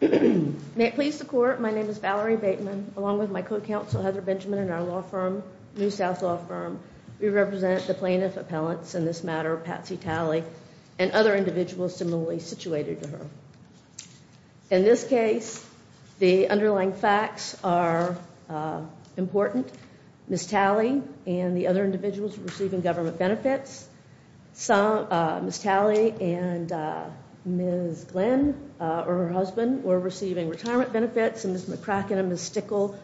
May it please the Court, my name is Valerie Bateman, along with my co-counsel Heather Benjamin and our law firm, New South Law Firm. We represent the plaintiff appellants in this matter, Patsy Talley and other individuals similarly situated to her. In this case, the underlying facts are important. Ms. Talley and the other individuals were receiving government benefits. Ms. Talley and Ms. Glenn, or her husband, were receiving retirement benefits. Ms. McCracken and Ms. Stickle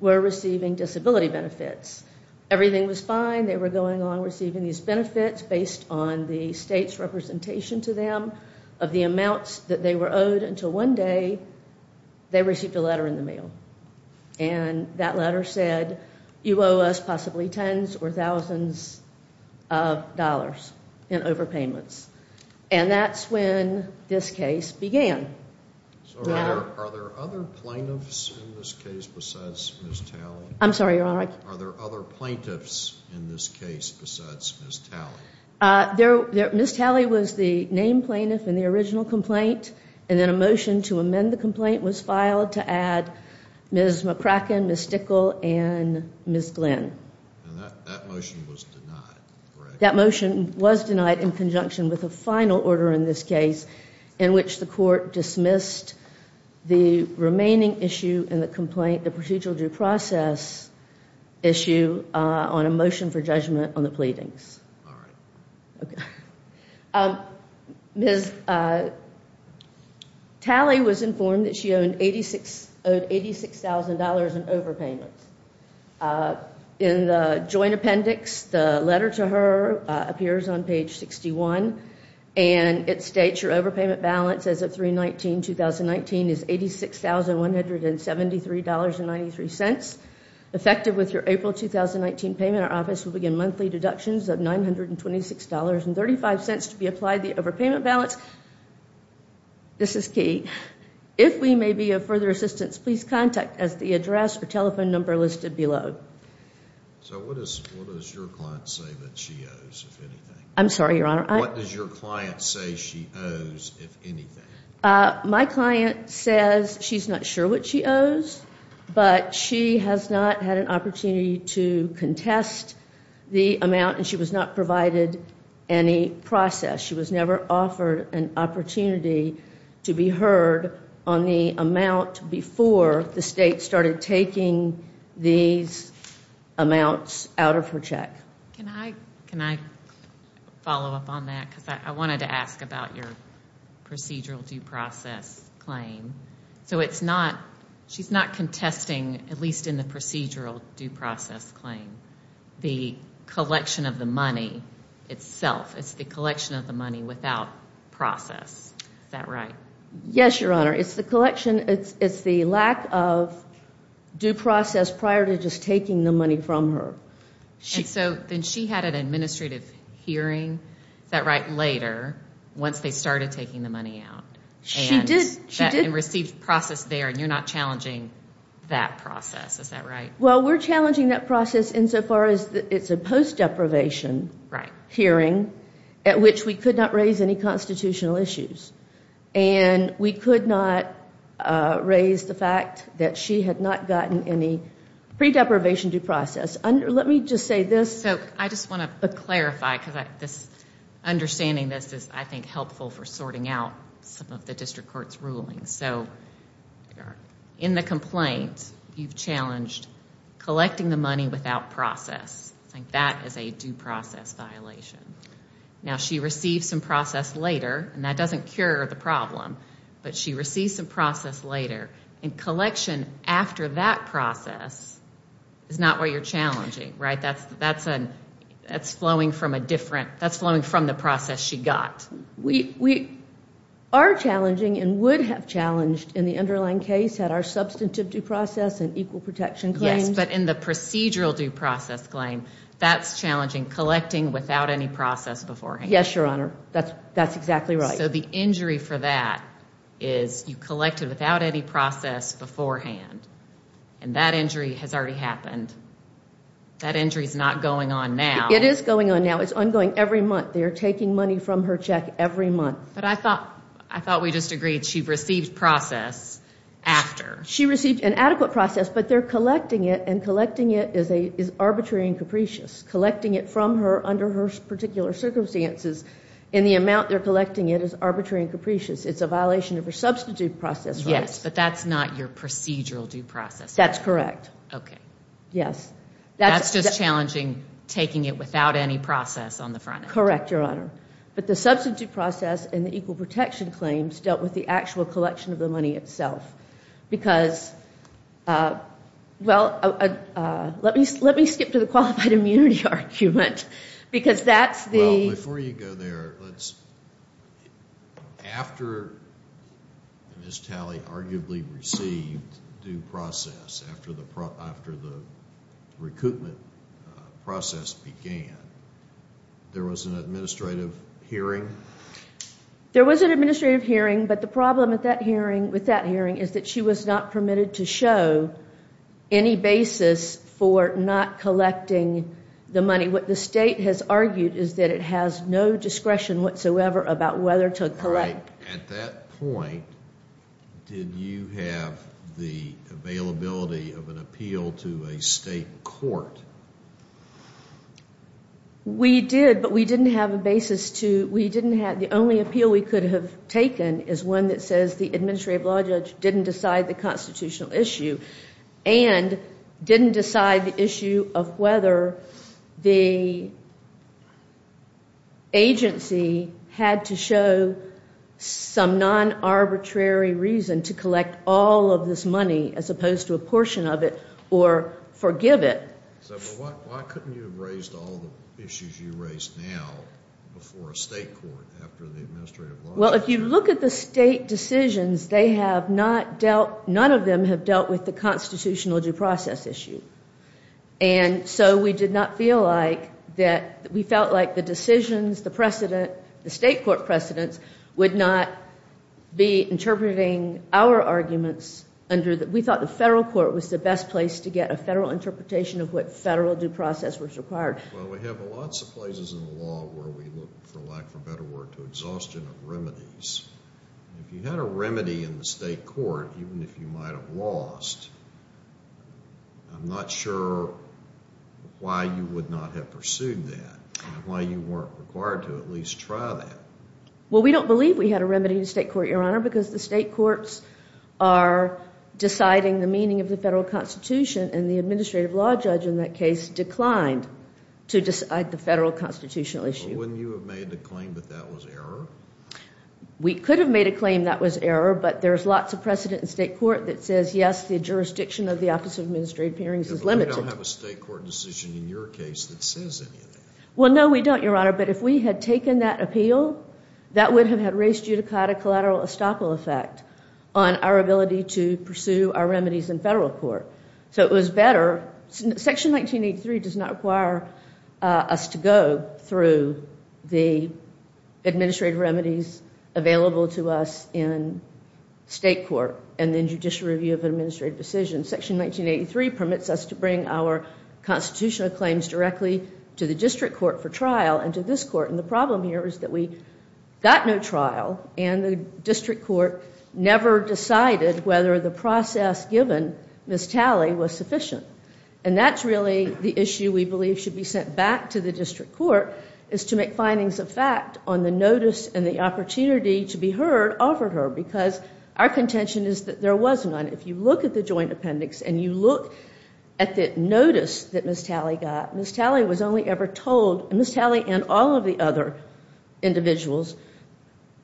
were receiving disability benefits. Everything was fine. They were going along receiving these benefits based on the state's representation to them of the amounts that they were owed until one day they received a letter in the mail. And that letter said, you owe us possibly tens or thousands of dollars in overpayments. And that's when this case began. Are there other plaintiffs in this case besides Ms. Talley? I'm sorry, Your Honor. Are there other plaintiffs in this case besides Ms. Talley? Ms. Talley was the named plaintiff in the original complaint. And then a motion to amend the complaint was filed to add Ms. McCracken, Ms. Stickle, and Ms. Glenn. That motion was denied, correct? That motion was denied in conjunction with a final order in this case in which the court dismissed the remaining issue in the complaint, the procedural due process issue on a motion for judgment on the pleadings. Ms. Talley was informed that she owed $86,000 in overpayments. In the joint appendix, the letter to her appears on page 61. And it states your overpayment balance as of 3-19-2019 is $86,173.93. Effective with your April 2019 payment, our office will begin monthly deductions of $926.35 to be applied to the overpayment balance. This is key. If we may be of further assistance, please contact us at the address or telephone number listed below. So what does your client say that she owes, if anything? I'm sorry, Your Honor. What does your client say she owes, if anything? My client says she's not sure what she owes, but she has not had an opportunity to contest the amount, and she was not provided any process. She was never offered an opportunity to be heard on the amount before the state started taking these amounts out of her check. Can I follow up on that? Because I wanted to ask about your procedural due process claim. So it's not, she's not contesting, at least in the procedural due process claim, the collection of the money itself. It's the collection of the money without process. Is that right? Yes, Your Honor. It's the collection, it's the lack of due process prior to just taking the money from her. And so then she had an administrative hearing, is that right, later, once they started taking the money out? She did. And received process there, and you're not challenging that process, is that right? Well, we're challenging that process insofar as it's a post-deprivation hearing, at which we could not raise any constitutional issues. And we could not raise the fact that she had not gotten any pre-deprivation due process. Let me just say this. So I just want to clarify, because understanding this is, I think, helpful for sorting out some of the district court's rulings. So in the complaint, you've challenged collecting the money without process. I think that is a due process violation. Now, she received some process later, and that doesn't cure the problem, but she received some process later. And collection after that process is not what you're challenging, right? That's flowing from a different, that's flowing from the process she got. We are challenging and would have challenged in the underlying case had our substantive due process and equal protection claims. But in the procedural due process claim, that's challenging, collecting without any process beforehand. Yes, Your Honor. That's exactly right. So the injury for that is you collect it without any process beforehand. And that injury has already happened. That injury is not going on now. It is going on now. It's ongoing every month. They are taking money from her check every month. But I thought we just agreed she received process after. She received an adequate process, but they're collecting it, and collecting it is arbitrary and capricious. Collecting it from her under her particular circumstances in the amount they're collecting it is arbitrary and capricious. It's a violation of her substantive due process, right? Yes, but that's not your procedural due process. That's correct. Okay. Yes. That's just challenging taking it without any process on the front end. Correct, Your Honor. But the substantive due process and the equal protection claims dealt with the actual collection of the money itself. Because, well, let me skip to the qualified immunity argument because that's the... Well, before you go there, let's... After Ms. Talley arguably received due process, after the recoupment process began, there was an administrative hearing? There was an administrative hearing, but the problem with that hearing is that she was not permitted to show any basis for not collecting the money. What the State has argued is that it has no discretion whatsoever about whether to collect. All right. At that point, did you have the availability of an appeal to a state court? We did, but we didn't have a basis to... The only appeal we could have taken is one that says the administrative law judge didn't decide the constitutional issue and didn't decide the issue of whether the agency had to show some non-arbitrary reason to collect all of this money as opposed to a portion of it or forgive it. So why couldn't you have raised all the issues you raised now before a state court after the administrative law judge? Well, if you look at the state decisions, they have not dealt... None of them have dealt with the constitutional due process issue. And so we did not feel like that... We felt like the decisions, the precedent, the state court precedents would not be interpreting our arguments under... We thought the federal court was the best place to get a federal interpretation of what federal due process was required. Well, we have lots of places in the law where we look, for lack of a better word, to exhaustion of remedies. And if you had a remedy in the state court, even if you might have lost, I'm not sure why you would not have pursued that and why you weren't required to at least try that. Well, we don't believe we had a remedy in the state court, Your Honor, because the state courts are deciding the meaning of the federal constitution and the administrative law judge in that case declined to decide the federal constitutional issue. Well, wouldn't you have made the claim that that was error? We could have made a claim that was error, but there's lots of precedent in state court that says, yes, the jurisdiction of the Office of Administrative Appearance is limited. But we don't have a state court decision in your case that says anything. Well, no, we don't, Your Honor, but if we had taken that appeal, that would have had res judicata collateral estoppel effect on our ability to pursue our remedies in federal court. So it was better. Section 1983 does not require us to go through the administrative remedies available to us in state court and then judicial review of administrative decisions. Section 1983 permits us to bring our constitutional claims directly to the district court for trial and to this court. And the problem here is that we got no trial, and the district court never decided whether the process given Ms. Talley was sufficient. And that's really the issue we believe should be sent back to the district court, is to make findings of fact on the notice and the opportunity to be heard over her, because our contention is that there was none. If you look at the joint appendix and you look at the notice that Ms. Talley got, Ms. Talley was only ever told, and Ms. Talley and all of the other individuals,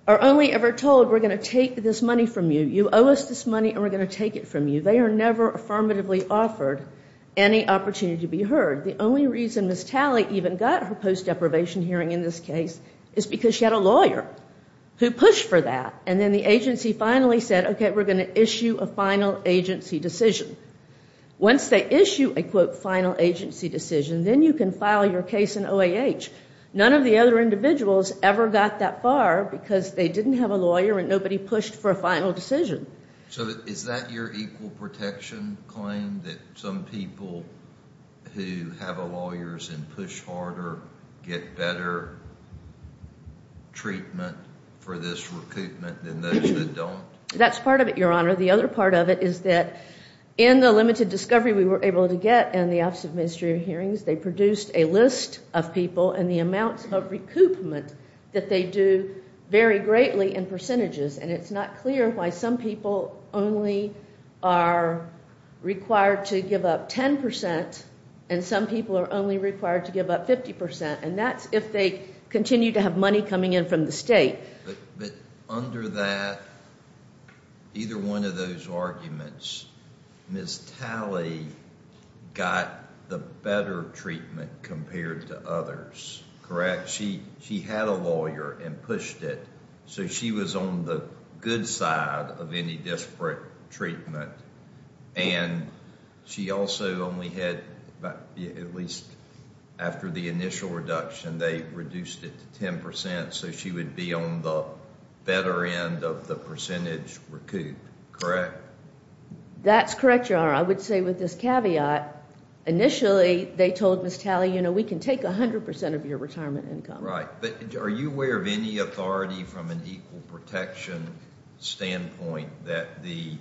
are only ever told we're going to take this money from you. You owe us this money and we're going to take it from you. They are never affirmatively offered any opportunity to be heard. The only reason Ms. Talley even got her post-deprivation hearing in this case is because she had a lawyer who pushed for that. And then the agency finally said, okay, we're going to issue a final agency decision. Once they issue a, quote, final agency decision, then you can file your case in OAH. None of the other individuals ever got that far because they didn't have a lawyer and nobody pushed for a final decision. So is that your equal protection claim that some people who have a lawyer and push harder get better treatment for this recoupment than those that don't? That's part of it, Your Honor. The other part of it is that in the limited discovery we were able to get in the Office of Administrative Hearings, they produced a list of people and the amounts of recoupment that they do vary greatly in percentages. And it's not clear why some people only are required to give up 10 percent and some people are only required to give up 50 percent. And that's if they continue to have money coming in from the state. But under that, either one of those arguments, Ms. Talley got the better treatment compared to others, correct? She had a lawyer and pushed it, so she was on the good side of any disparate treatment. And she also only had, at least after the initial reduction, they reduced it to 10 percent, so she would be on the better end of the percentage recouped, correct? That's correct, Your Honor. I would say with this caveat, initially they told Ms. Talley, you know, we can take 100 percent of your retirement income. Right. But are you aware of any authority from an equal protection standpoint that the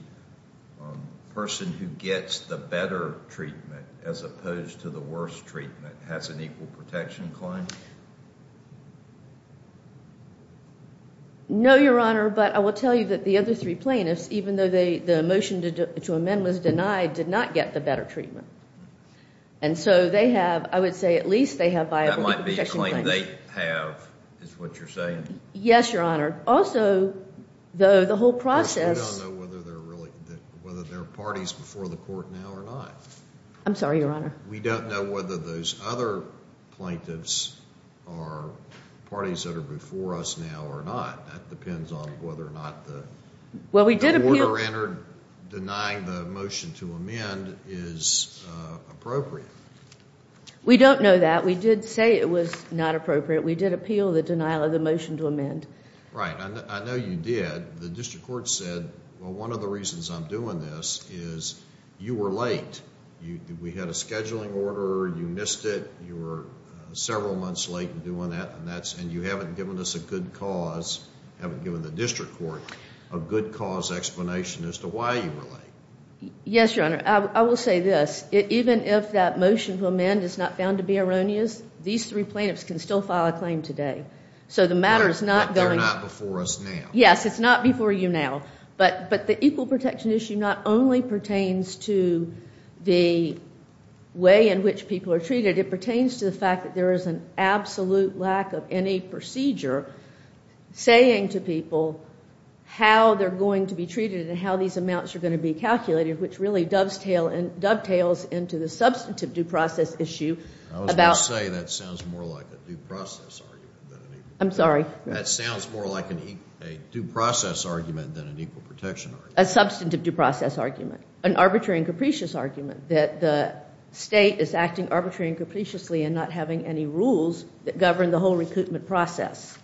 person who gets the better treatment as opposed to the worst treatment has an equal protection claim? No, Your Honor, but I will tell you that the other three plaintiffs, even though the motion to amend was denied, did not get the better treatment. And so they have, I would say at least they have viable equal protection claims. That might be a claim they have, is what you're saying? Yes, Your Honor. Also, though, the whole process. We don't know whether there are parties before the court now or not. I'm sorry, Your Honor. We don't know whether those other plaintiffs are parties that are before us now or not. That depends on whether or not the order entered denying the motion to amend is appropriate. We don't know that. We did say it was not appropriate. We did appeal the denial of the motion to amend. Right. I know you did. The district court said, well, one of the reasons I'm doing this is you were late. We had a scheduling order. You missed it. You were several months late in doing that, and you haven't given us a good cause, haven't given the district court a good cause explanation as to why you were late. Yes, Your Honor. I will say this. Even if that motion to amend is not found to be erroneous, these three plaintiffs can still file a claim today. But they're not before us now. Yes, it's not before you now. But the equal protection issue not only pertains to the way in which people are treated, it pertains to the fact that there is an absolute lack of any procedure saying to people how they're going to be treated and how these amounts are going to be calculated, which really dovetails into the substantive due process issue. I was going to say that sounds more like a due process argument than an equal protection argument. I'm sorry? That sounds more like a due process argument than an equal protection argument. A substantive due process argument. An arbitrary and capricious argument that the state is acting arbitrarily and capriciously and not having any rules that govern the whole recoupment process.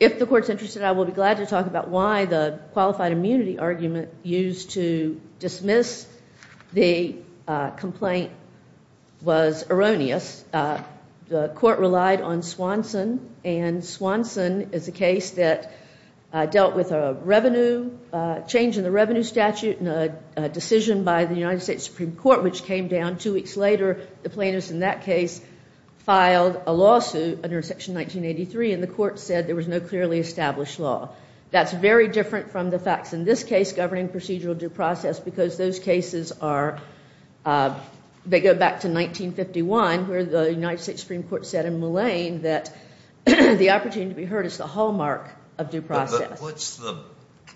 If the court's interested, I will be glad to talk about why the qualified immunity argument used to dismiss the complaint was erroneous. The court relied on Swanson, and Swanson is a case that dealt with a revenue change in the revenue statute and a decision by the United States Supreme Court which came down two weeks later. The plaintiffs in that case filed a lawsuit under Section 1983, and the court said there was no clearly established law. That's very different from the facts in this case governing procedural due process because those cases are, they go back to 1951 where the United States Supreme Court said in Mullane that the opportunity to be heard is the hallmark of due process. What's the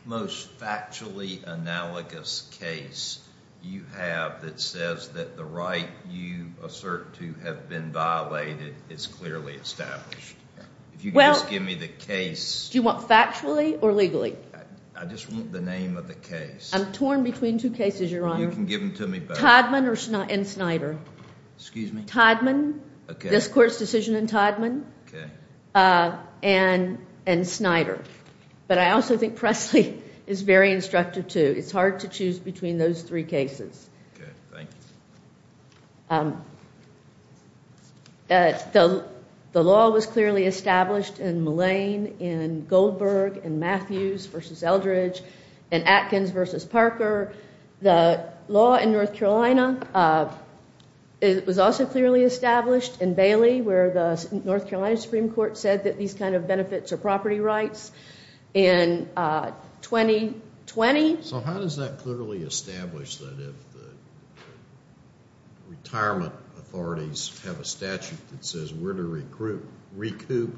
most factually analogous case you have that says that the right you assert to have been violated is clearly established? If you could just give me the case. Do you want factually or legally? I just want the name of the case. I'm torn between two cases, Your Honor. You can give them to me both. Todman and Snyder. Excuse me? Todman. Okay. This court's decision in Todman. Okay. And Snyder. But I also think Presley is very instructive, too. It's hard to choose between those three cases. Okay. Thank you. The law was clearly established in Mullane, in Goldberg, in Matthews v. Eldridge, in Atkins v. Parker. The law in North Carolina was also clearly established in Bailey where the North Carolina Supreme Court said that these kind of benefits are property rights in 2020. So how does that clearly establish that if the retirement authorities have a statute that says we're to recoup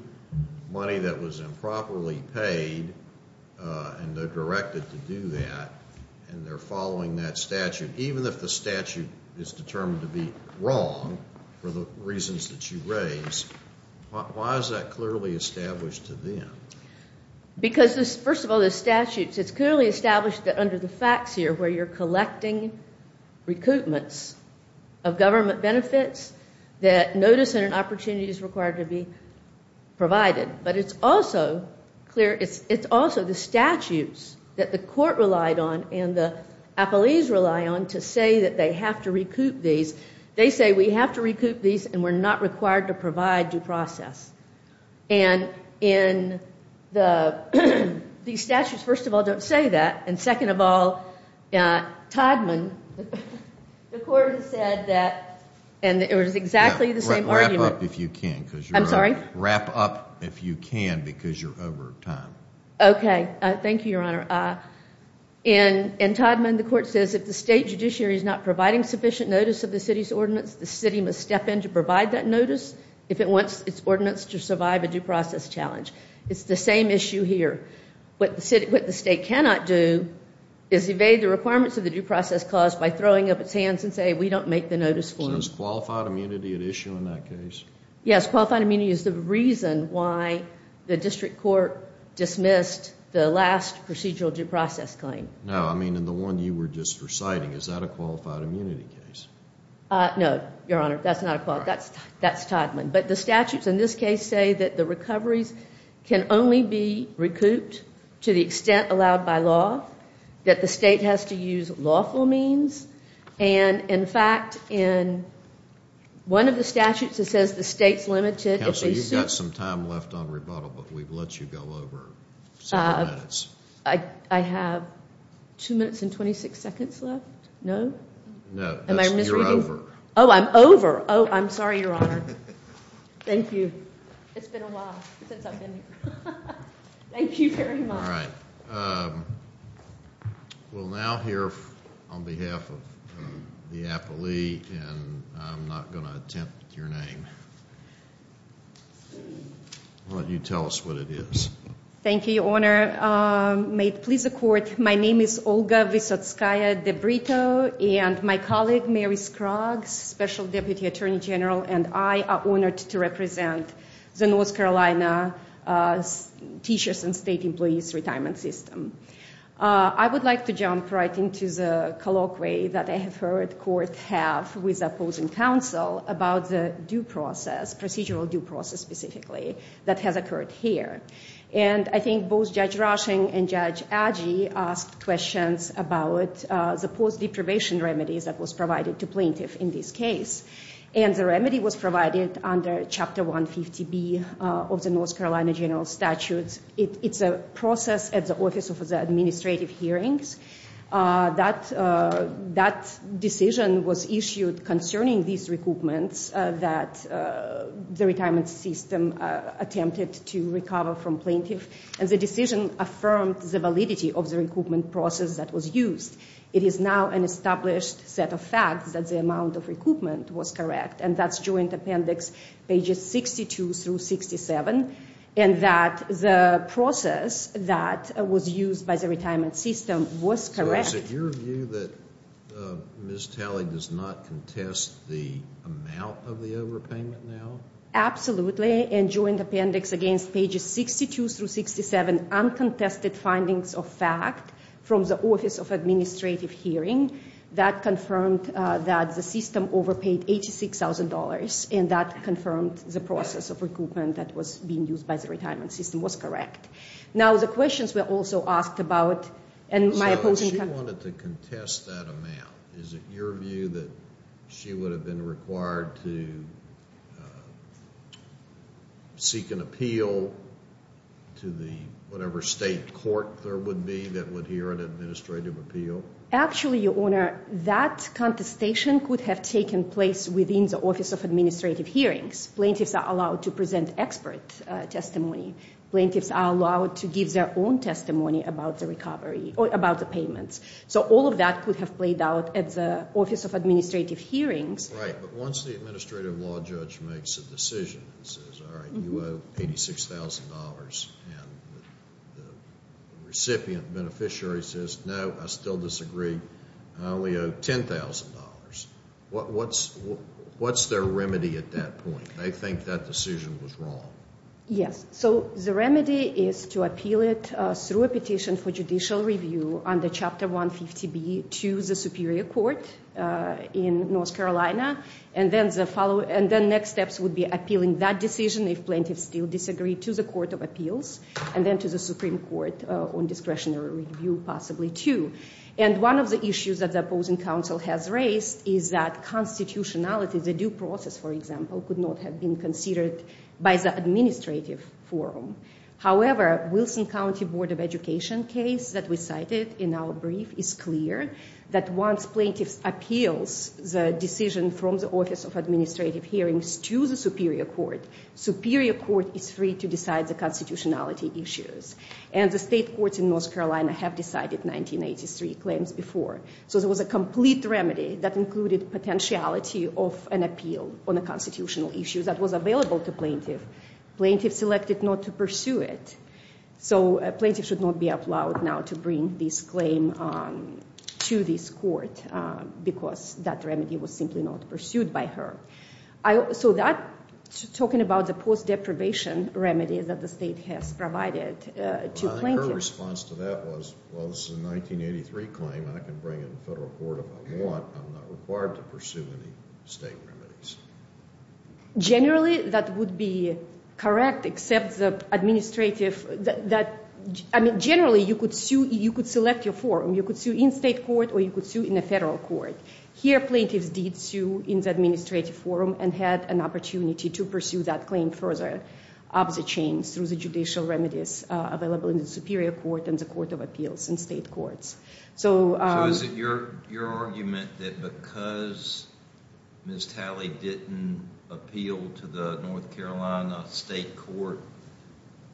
money that was improperly paid and they're directed to do that and they're following that statute, even if the statute is determined to be wrong for the reasons that you raise, why is that clearly established to them? Because, first of all, the statute, it's clearly established that under the facts here where you're collecting recoupments of government benefits that notice and an opportunity is required to be provided. But it's also clear, it's also the statutes that the court relied on and the appellees rely on to say that they have to recoup these. They say we have to recoup these and we're not required to provide due process. And in the, these statutes, first of all, don't say that. And second of all, Todman, the court has said that, and it was exactly the same argument. Wrap up if you can. I'm sorry? Wrap up if you can because you're over time. Thank you, Your Honor. In Todman, the court says if the state judiciary is not providing sufficient notice of the city's ordinance, the city must step in to provide that notice if it wants its ordinance to survive a due process challenge. It's the same issue here. What the state cannot do is evade the requirements of the due process clause by throwing up its hands and saying we don't make the notice for you. So it's qualified immunity at issue in that case? Yes, qualified immunity is the reason why the district court dismissed the last procedural due process claim. No, I mean in the one you were just reciting. Is that a qualified immunity case? No, Your Honor, that's not a qualified. That's Todman. But the statutes in this case say that the recoveries can only be recouped to the extent allowed by law, that the state has to use lawful means. And, in fact, in one of the statutes it says the state's limited. Counsel, you've got some time left on rebuttal, but we've let you go over several minutes. I have two minutes and 26 seconds left? No. No. You're over. Oh, I'm over. Oh, I'm sorry, Your Honor. Thank you. It's been a while since I've been here. Thank you very much. All right. We'll now hear on behalf of the appellee, and I'm not going to attempt your name. Why don't you tell us what it is? Thank you, Your Honor. May it please the Court, my name is Olga Visotskaya DeBritto, and my colleague, Mary Scruggs, Special Deputy Attorney General, and I are honored to represent the North Carolina Teachers and State Employees Retirement System. I would like to jump right into the colloquy that I have heard courts have with opposing counsel about the due process, procedural due process specifically, that has occurred here. And I think both Judge Rushing and Judge Adgee asked questions about the post-deprivation remedies that was provided to plaintiffs in this case. And the remedy was provided under Chapter 150B of the North Carolina General Statutes. It's a process at the Office of the Administrative Hearings. That decision was issued concerning these recoupments that the retirement system attempted to recover from plaintiffs, and the decision affirmed the validity of the recoupment process that was used. It is now an established set of facts that the amount of recoupment was correct, and that's joint appendix pages 62 through 67, and that the process that was used by the retirement system was correct. So is it your view that Ms. Talley does not contest the amount of the overpayment now? Absolutely. And joint appendix against pages 62 through 67 uncontested findings of fact from the Office of Administrative Hearing that confirmed that the system overpaid $86,000, and that confirmed the process of recoupment that was being used by the retirement system was correct. Now, the questions were also asked about, and my opposing counsel— So she wanted to contest that amount. Is it your view that she would have been required to seek an appeal to the whatever state court there would be that would hear an administrative appeal? Actually, Your Honor, that contestation could have taken place within the Office of Administrative Hearings. Plaintiffs are allowed to present expert testimony. Plaintiffs are allowed to give their own testimony about the recovery or about the payments. So all of that could have played out at the Office of Administrative Hearings. Right, but once the administrative law judge makes a decision and says, all right, you owe $86,000, and the recipient beneficiary says, no, I still disagree, I only owe $10,000, what's their remedy at that point? They think that decision was wrong. Yes, so the remedy is to appeal it through a petition for judicial review under Chapter 150B to the Superior Court in North Carolina, and then the next steps would be appealing that decision if plaintiffs still disagree to the Court of Appeals, and then to the Supreme Court on discretionary review, possibly too. And one of the issues that the opposing counsel has raised is that constitutionality, the due process, for example, could not have been considered by the administrative forum. However, Wilson County Board of Education case that we cited in our brief is clear that once plaintiffs appeals the decision from the Office of Administrative Hearings to the Superior Court, Superior Court is free to decide the constitutionality issues. And the state courts in North Carolina have decided 1983 claims before. So there was a complete remedy that included potentiality of an appeal on the constitutional issues that was available to plaintiffs. Plaintiffs selected not to pursue it. So a plaintiff should not be allowed now to bring this claim to this court because that remedy was simply not pursued by her. So that, talking about the post-deprivation remedy that the state has provided to plaintiffs. My response to that was, well, this is a 1983 claim, and I can bring it to the federal court if I want. I'm not required to pursue any state remedies. Generally, that would be correct, except the administrative, that, I mean, generally you could sue, you could select your forum. You could sue in state court or you could sue in the federal court. Here plaintiffs did sue in the administrative forum and had an opportunity to pursue that claim further up the chain through the judicial remedies available in the Superior Court and the Court of Appeals in state courts. So is it your argument that because Ms. Talley didn't appeal to the North Carolina state court,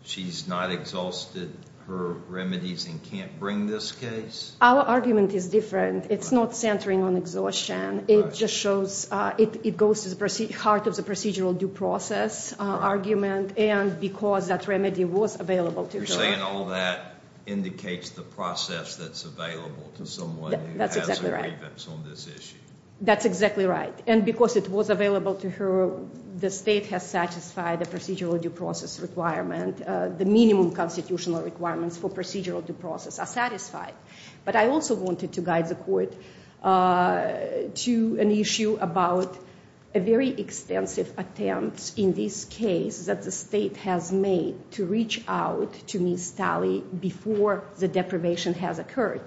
she's not exhausted her remedies and can't bring this case? Our argument is different. It's not centering on exhaustion. It just shows it goes to the heart of the procedural due process argument. And because that remedy was available to her. You're saying all that indicates the process that's available to someone who has a grievance on this issue. That's exactly right. And because it was available to her, the state has satisfied the procedural due process requirement. The minimum constitutional requirements for procedural due process are satisfied. But I also wanted to guide the court to an issue about a very extensive attempt in this case that the state has made to reach out to Ms. Talley before the deprivation has occurred.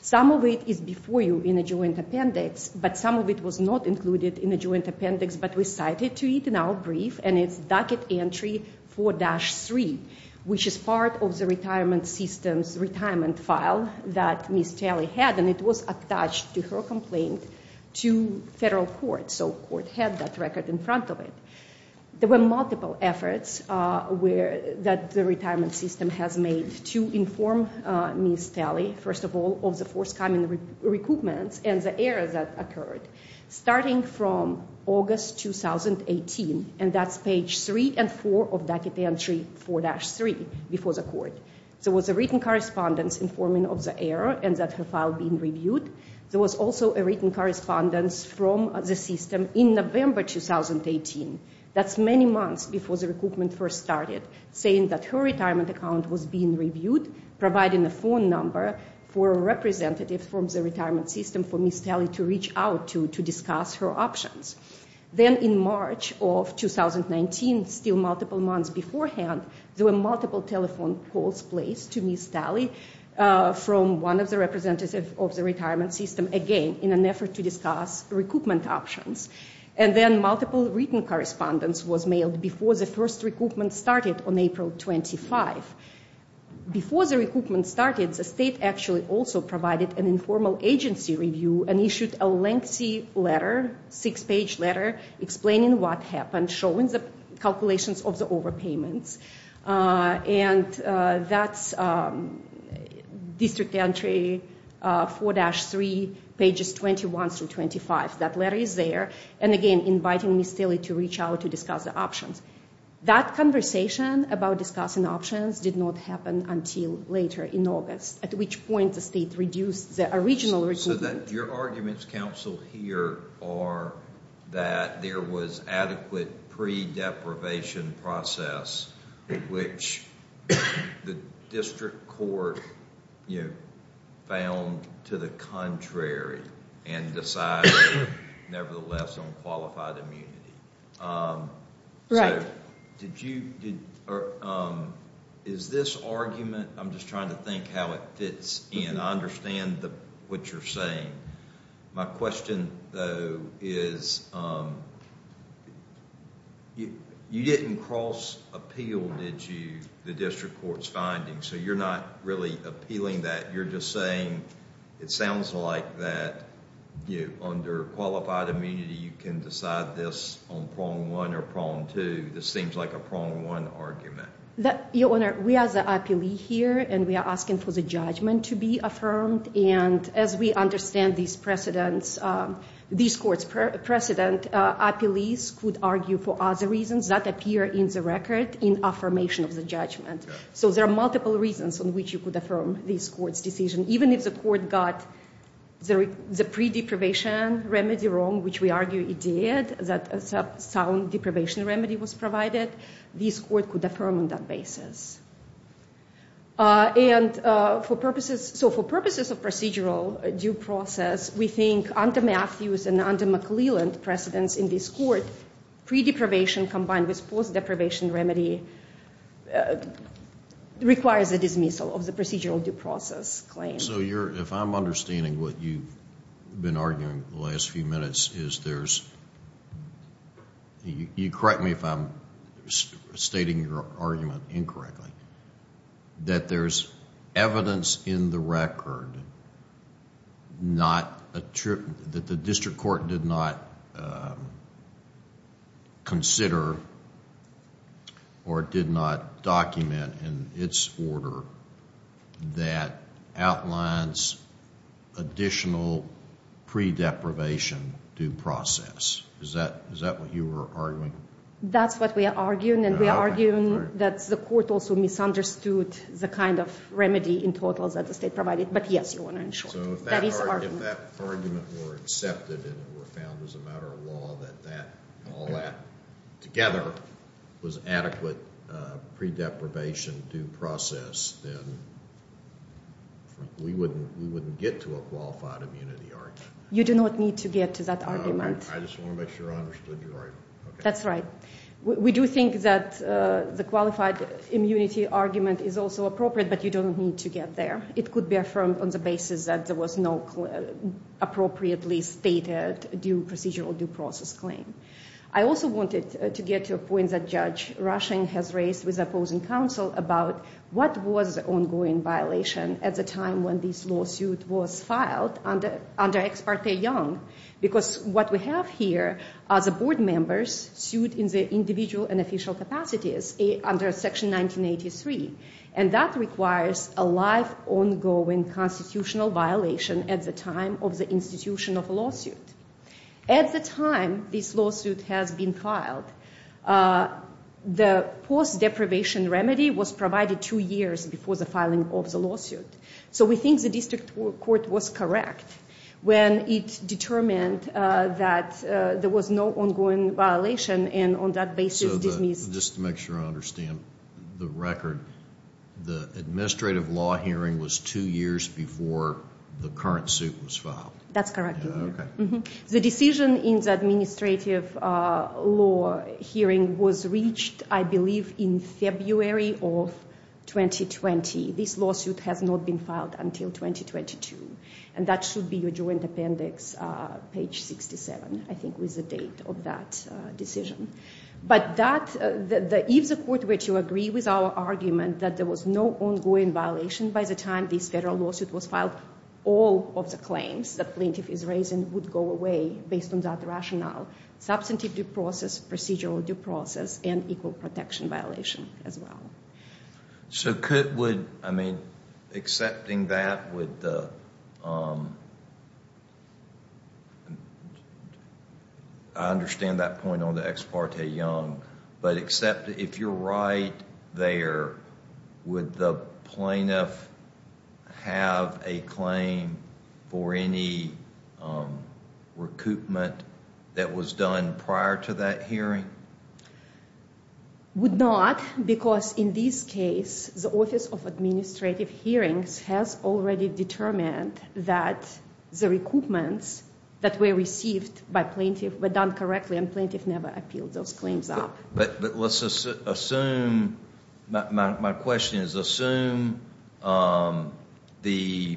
Some of it is before you in the joint appendix, but some of it was not included in the joint appendix, but we cited to it in our brief, and it's docket entry 4-3, which is part of the retirement system's retirement file that Ms. Talley had, and it was attached to her complaint to federal court. So court had that record in front of it. There were multiple efforts that the retirement system has made to inform Ms. Talley, first of all, of the forthcoming recoupments and the errors that occurred, starting from August 2018, and that's page 3 and 4 of docket entry 4-3 before the court. There was a written correspondence informing of the error and that her file being reviewed. There was also a written correspondence from the system in November 2018. That's many months before the recoupment first started, saying that her retirement account was being reviewed, providing a phone number for a representative from the retirement system for Ms. Talley to reach out to to discuss her options. Then in March of 2019, still multiple months beforehand, there were multiple telephone calls placed to Ms. Talley from one of the representatives of the retirement system, again, in an effort to discuss recoupment options, and then multiple written correspondence was mailed before the first recoupment started on April 25. Before the recoupment started, the state actually also provided an informal agency review and issued a lengthy letter, six-page letter, explaining what happened, showing the calculations of the overpayments, and that's district entry 4-3, pages 21 through 25. That letter is there, and again, inviting Ms. Talley to reach out to discuss the options. That conversation about discussing options did not happen until later in August, at which point the state reduced the original recoupment. So your arguments, counsel, here are that there was adequate pre-deprivation process, which the district court found to the contrary and decided, nevertheless, on qualified immunity. Right. Is this argument, I'm just trying to think how it fits in. I understand what you're saying. My question, though, is you didn't cross-appeal, did you, the district court's findings, so you're not really appealing that. You're just saying it sounds like that under qualified immunity you can decide this on prong one or prong two. This seems like a prong one argument. Your Honor, we are the IPLE here, and we are asking for the judgment to be affirmed, and as we understand these precedents, these courts' precedent, IPLEs could argue for other reasons that appear in the record in affirmation of the judgment. So there are multiple reasons on which you could affirm this court's decision. Even if the court got the pre-deprivation remedy wrong, which we argue it did, that a sound deprivation remedy was provided, this court could affirm on that basis. And for purposes of procedural due process, we think under Matthews and under McClelland precedents in this court, pre-deprivation combined with post-deprivation remedy requires a dismissal of the procedural due process claim. So if I'm understanding what you've been arguing the last few minutes is there's, you correct me if I'm stating your argument incorrectly, that there's evidence in the record that the district court did not consider or did not document in its order that outlines additional pre-deprivation due process. Is that what you were arguing? That's what we are arguing. And we are arguing that the court also misunderstood the kind of remedy in total that the state provided. But yes, Your Honor, in short. So if that argument were accepted and were found as a matter of law, that all that together was adequate pre-deprivation due process, then we wouldn't get to a qualified immunity argument. You do not need to get to that argument. I just want to make sure I understood your argument. That's right. We do think that the qualified immunity argument is also appropriate, but you don't need to get there. It could be affirmed on the basis that there was no appropriately stated due procedural due process claim. I also wanted to get to a point that Judge Rushing has raised with opposing counsel about what was the ongoing violation at the time when this lawsuit was filed under Ex parte Young. Because what we have here are the board members sued in their individual and official capacities under Section 1983. And that requires a life-ongoing constitutional violation at the time of the institution of a lawsuit. At the time this lawsuit has been filed, the post-deprivation remedy was provided two years before the filing of the lawsuit. So we think the district court was correct when it determined that there was no ongoing violation, and on that basis dismissed. Just to make sure I understand the record, the administrative law hearing was two years before the current suit was filed. That's correct. The decision in the administrative law hearing was reached, I believe, in February of 2020. This lawsuit has not been filed until 2022, and that should be your joint appendix, page 67, I think was the date of that decision. But if the court were to agree with our argument that there was no ongoing violation by the time this federal lawsuit was filed, all of the claims the plaintiff is raising would go away based on that rationale, substantive due process, procedural due process, and equal protection violation as well. So could, would, I mean, accepting that with the, I understand that point on the ex parte young, but except if you're right there, would the plaintiff have a claim for any recoupment that was done prior to that hearing? Would not, because in this case, the Office of Administrative Hearings has already determined that the recoupments that were received by plaintiff were done correctly, and plaintiff never appealed those claims up. But let's assume, my question is, assume the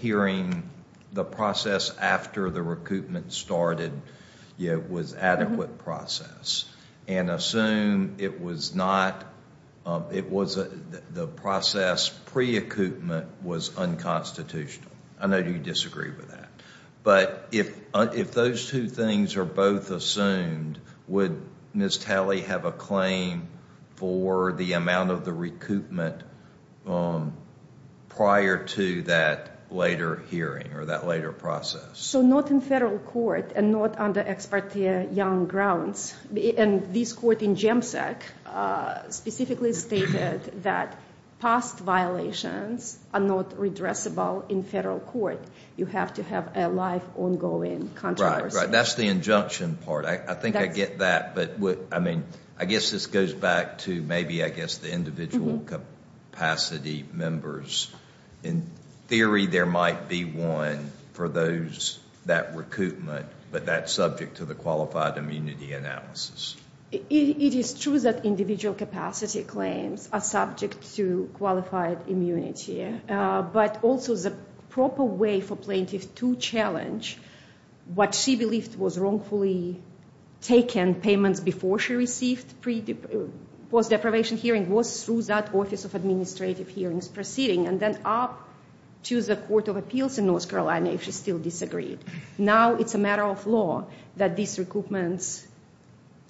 hearing, the process after the recoupment started was adequate process, and assume it was not, it was, the process pre-ecoupment was unconstitutional. I know you disagree with that. But if those two things are both assumed, would Ms. Talley have a claim for the amount of the recoupment prior to that later hearing or that later process? So not in federal court and not under ex parte young grounds, and this court in JEMSEC specifically stated that past violations are not redressable in federal court. You have to have a life-ongoing controversy. Right, right, that's the injunction part. I think I get that, but I mean, I guess this goes back to maybe, I guess, the individual capacity members. In theory, there might be one for those, that recoupment, but that's subject to the qualified immunity analysis. It is true that individual capacity claims are subject to qualified immunity, but also the proper way for plaintiff to challenge what she believed was wrongfully taken payments before she received post-deprivation hearing was through that Office of Administrative Hearings proceeding, and then up to the Court of Appeals in North Carolina if she still disagreed. Now it's a matter of law that these recoupments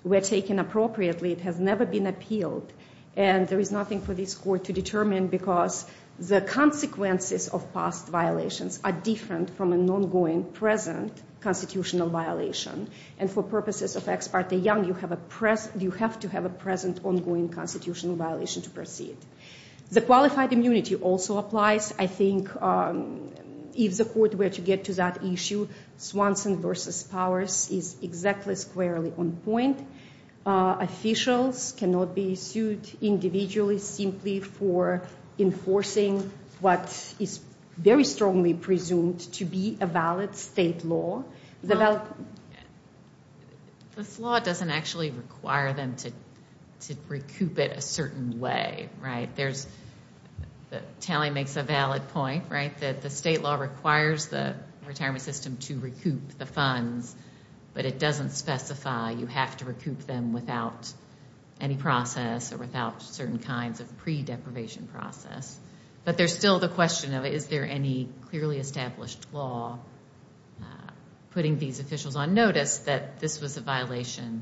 were taken appropriately. It has never been appealed, and there is nothing for this court to determine because the consequences of past violations are different from an ongoing present constitutional violation, and for purposes of ex parte young, you have to have a present ongoing constitutional violation to proceed. The qualified immunity also applies. I think if the court were to get to that issue, Swanson v. Powers is exactly squarely on point. Officials cannot be sued individually simply for enforcing what is very strongly presumed to be a valid state law. This law doesn't actually require them to recoup it a certain way, right? Tally makes a valid point, right, that the state law requires the retirement system to recoup the funds, but it doesn't specify you have to recoup them without any process or without certain kinds of pre-deprivation process. But there's still the question of is there any clearly established law putting these officials on notice that this was a violation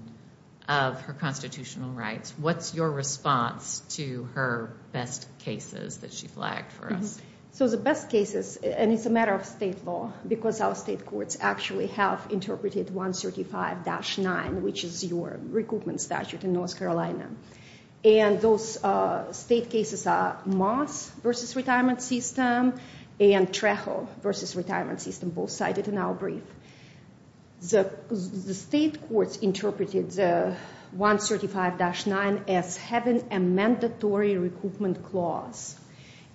of her constitutional rights? What's your response to her best cases that she flagged for us? So the best cases, and it's a matter of state law because our state courts actually have interpreted 135-9, which is your recoupment statute in North Carolina, and those state cases are Moss v. Retirement System and Trejo v. Retirement System, both cited in our brief. The state courts interpreted 135-9 as having a mandatory recoupment clause,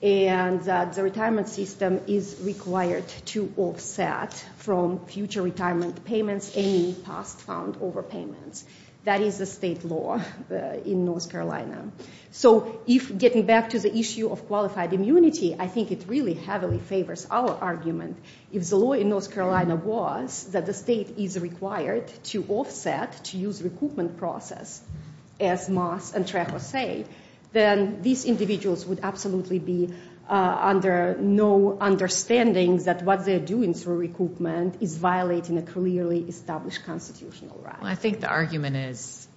and the retirement system is required to offset from future retirement payments any past found overpayments. That is the state law in North Carolina. So getting back to the issue of qualified immunity, I think it really heavily favors our argument. If the law in North Carolina was that the state is required to offset to use recoupment process, as Moss and Trejo say, then these individuals would absolutely be under no understanding that what they're doing through recoupment is violating a clearly established constitutional right. I think the argument is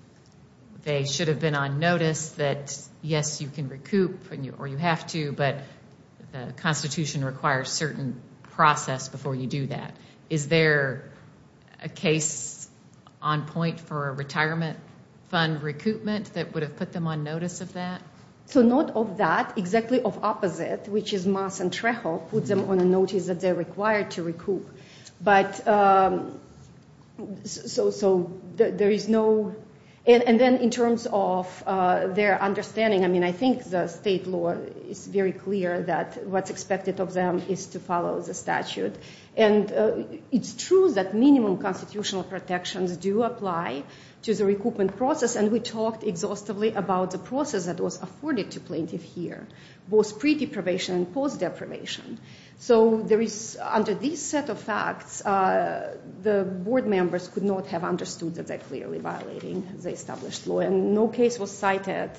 they should have been on notice that, yes, you can recoup or you have to, but the Constitution requires certain process before you do that. Is there a case on point for a retirement fund recoupment that would have put them on notice of that? So not of that, exactly of opposite, which is Moss and Trejo put them on a notice that they're required to recoup. And then in terms of their understanding, I mean, I think the state law is very clear that what's expected of them is to follow the statute. And it's true that minimum constitutional protections do apply to the recoupment process, and we talked exhaustively about the process that was afforded to plaintiffs here, both pre-deprivation and post-deprivation. So under these set of facts, the board members could not have understood that they're clearly violating the established law. And no case was cited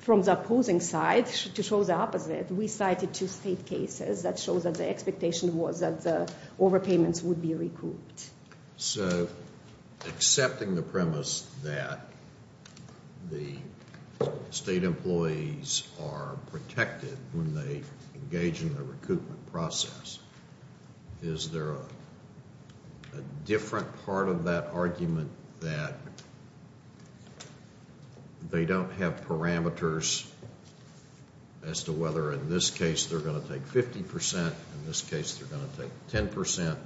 from the opposing side to show the opposite. We cited two state cases that showed that the expectation was that the overpayments would be recouped. So accepting the premise that the state employees are protected when they engage in the recoupment process, is there a different part of that argument that they don't have parameters as to whether in this case they're going to take 50%, in this case they're going to take 10%,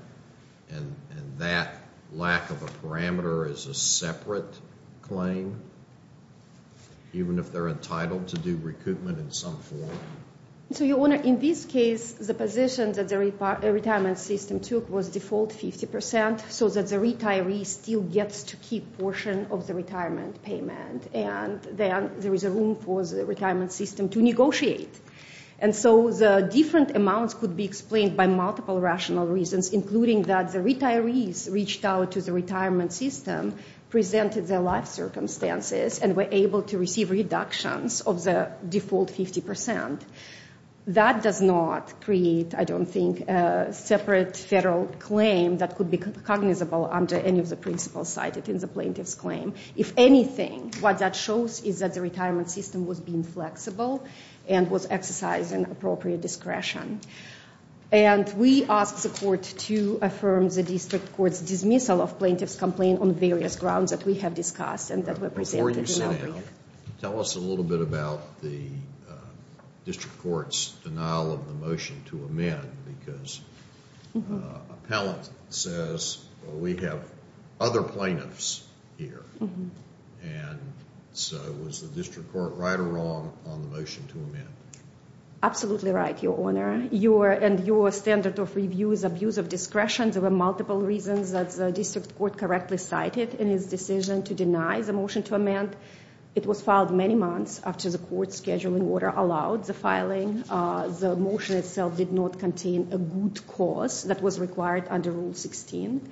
and that lack of a parameter is a separate claim, even if they're entitled to do recoupment in some form? So, Your Honor, in this case, the position that the retirement system took was default 50%, so that the retiree still gets to keep a portion of the retirement payment, and then there is room for the retirement system to negotiate. And so the different amounts could be explained by multiple rational reasons, including that the retirees reached out to the retirement system, presented their life circumstances, and were able to receive reductions of the default 50%. That does not create, I don't think, a separate federal claim that could be cognizable under any of the principles cited in the plaintiff's claim. If anything, what that shows is that the retirement system was being flexible and was exercising appropriate discretion. And we asked the court to affirm the district court's dismissal of plaintiff's complaint on various grounds that we have discussed and that were presented in the outbreak. Before you say that, tell us a little bit about the district court's denial of the motion to amend, because an appellant says, well, we have other plaintiffs here. And so was the district court right or wrong on the motion to amend? Absolutely right, Your Honor. And your standard of review is abuse of discretion. There were multiple reasons that the district court correctly cited in its decision to deny the motion to amend. It was filed many months after the court's scheduling order allowed the filing. The motion itself did not contain a good cause that was required under Rule 16.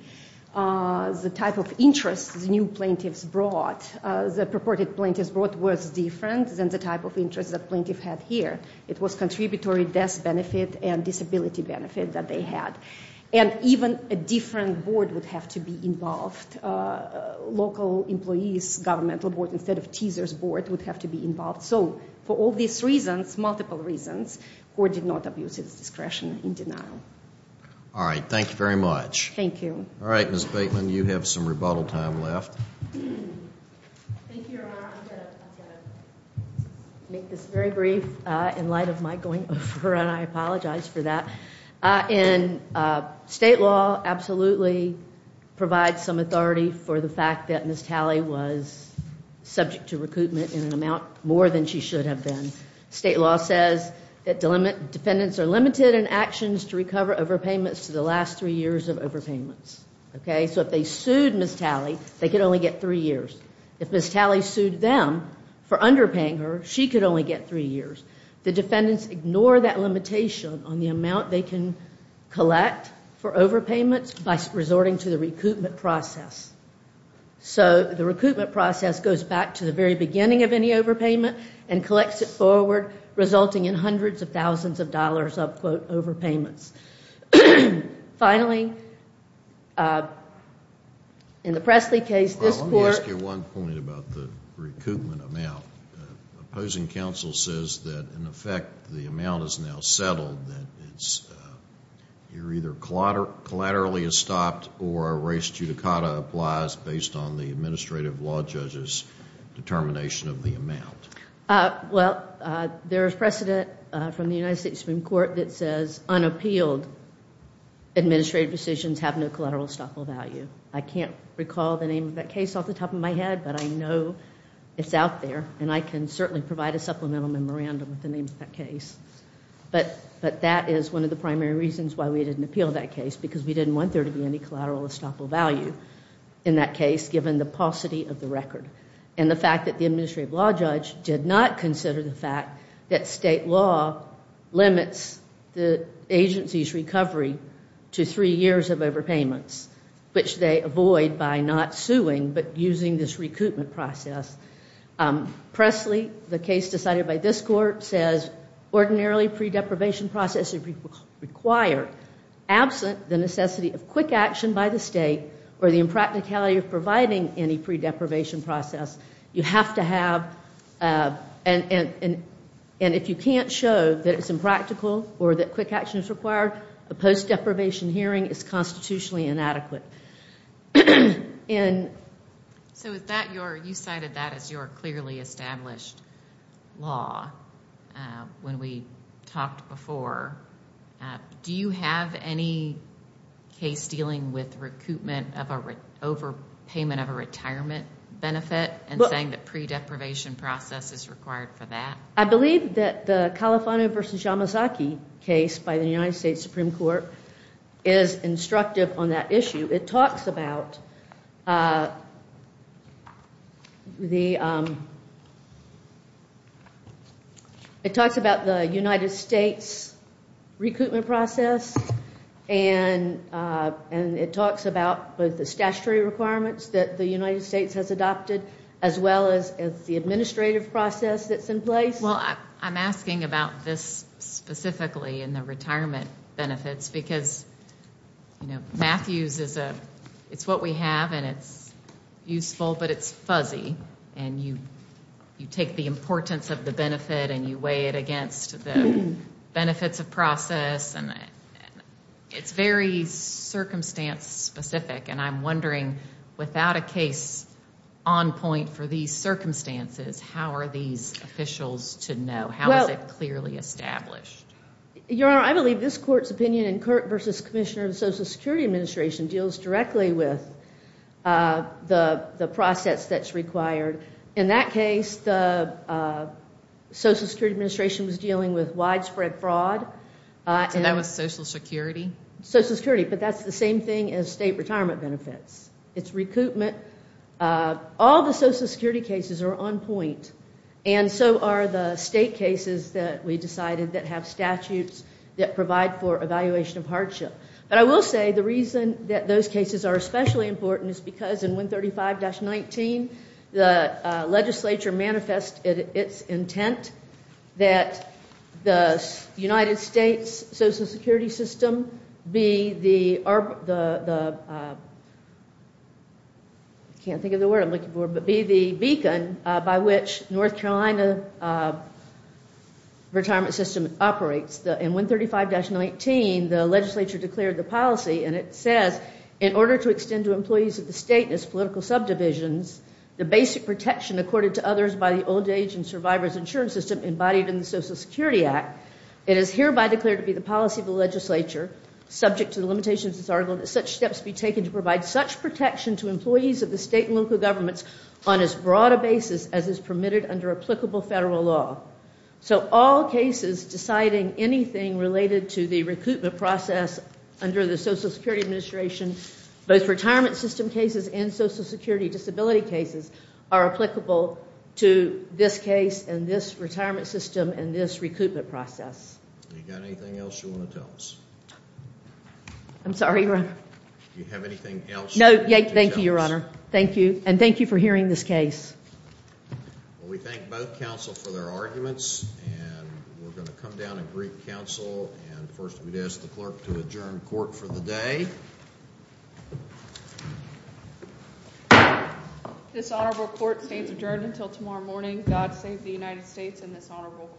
The type of interest the new plaintiffs brought, the purported plaintiffs brought, was different than the type of interest the plaintiff had here. It was contributory death benefit and disability benefit that they had. And even a different board would have to be involved. Local employees governmental board instead of teaser's board would have to be involved. So for all these reasons, multiple reasons, court did not abuse its discretion in denial. All right, thank you very much. Thank you. All right, Ms. Bateman, you have some rebuttal time left. Thank you, Your Honor. I'm going to make this very brief in light of Mike going over, and I apologize for that. State law absolutely provides some authority for the fact that Ms. Talley was subject to recoupment in an amount more than she should have been. State law says that defendants are limited in actions to recover overpayments to the last three years of overpayments. So if they sued Ms. Talley, they could only get three years. If Ms. Talley sued them for underpaying her, she could only get three years. The defendants ignore that limitation on the amount they can collect for overpayments by resorting to the recoupment process. So the recoupment process goes back to the very beginning of any overpayment and collects it forward, resulting in hundreds of thousands of dollars of, quote, overpayments. Finally, in the Pressley case, this court- Let me ask you one point about the recoupment amount. The opposing counsel says that, in effect, the amount is now settled, that it's either collaterally estopped or a res judicata applies based on the administrative law judge's determination of the amount. Well, there is precedent from the United States Supreme Court that says unappealed administrative decisions have no collateral estoppel value. I can't recall the name of that case off the top of my head, but I know it's out there, and I can certainly provide a supplemental memorandum with the name of that case. But that is one of the primary reasons why we didn't appeal that case, because we didn't want there to be any collateral estoppel value in that case, given the paucity of the record, and the fact that the administrative law judge did not consider the fact that state law limits the agency's recovery to three years of overpayments, which they avoid by not suing but using this recoupment process. Pressley, the case decided by this court, says ordinarily pre-deprivation process is required. Absent the necessity of quick action by the state or the impracticality of providing any pre-deprivation process, you have to have- and if you can't show that it's impractical or that quick action is required, a post-deprivation hearing is constitutionally inadequate. So you cited that as your clearly established law when we talked before. Do you have any case dealing with recoupment of an overpayment of a retirement benefit and saying that pre-deprivation process is required for that? I believe that the Califano v. Yamazaki case by the United States Supreme Court is instructive on that issue. It talks about the United States recoupment process, and it talks about both the statutory requirements that the United States has adopted as well as the administrative process that's in place. Well, I'm asking about this specifically in the retirement benefits because Matthews is what we have, and it's useful, but it's fuzzy, and you take the importance of the benefit and you weigh it against the benefits of process, and it's very circumstance-specific, and I'm wondering, without a case on point for these circumstances, how are these officials to know? How is it clearly established? Your Honor, I believe this court's opinion in Kurt v. Commissioner of the Social Security Administration deals directly with the process that's required. In that case, the Social Security Administration was dealing with widespread fraud. So that was Social Security? Social Security, but that's the same thing as state retirement benefits. It's recoupment. All the Social Security cases are on point, and so are the state cases that we decided that have statutes that provide for evaluation of hardship. But I will say the reason that those cases are especially important is because in 135-19, the legislature manifest its intent that the United States Social Security system be the beacon by which North Carolina retirement system operates. In 135-19, the legislature declared the policy, and it says, in order to extend to employees of the state and its political subdivisions the basic protection accorded to others by the old age and survivor's insurance system embodied in the Social Security Act, it is hereby declared to be the policy of the legislature, subject to the limitations of this article, that such steps be taken to provide such protection to employees of the state and local governments on as broad a basis as is permitted under applicable federal law. So all cases deciding anything related to the recoupment process under the Social Security Administration, both retirement system cases and Social Security disability cases, are applicable to this case and this retirement system and this recoupment process. Do you have anything else you want to tell us? I'm sorry, Your Honor. Do you have anything else you want to tell us? No, thank you, Your Honor, and thank you for hearing this case. Well, we thank both counsel for their arguments, and we're going to come down and greet counsel, and first we'd ask the clerk to adjourn court for the day. This honorable court stays adjourned until tomorrow morning. God save the United States and this honorable court.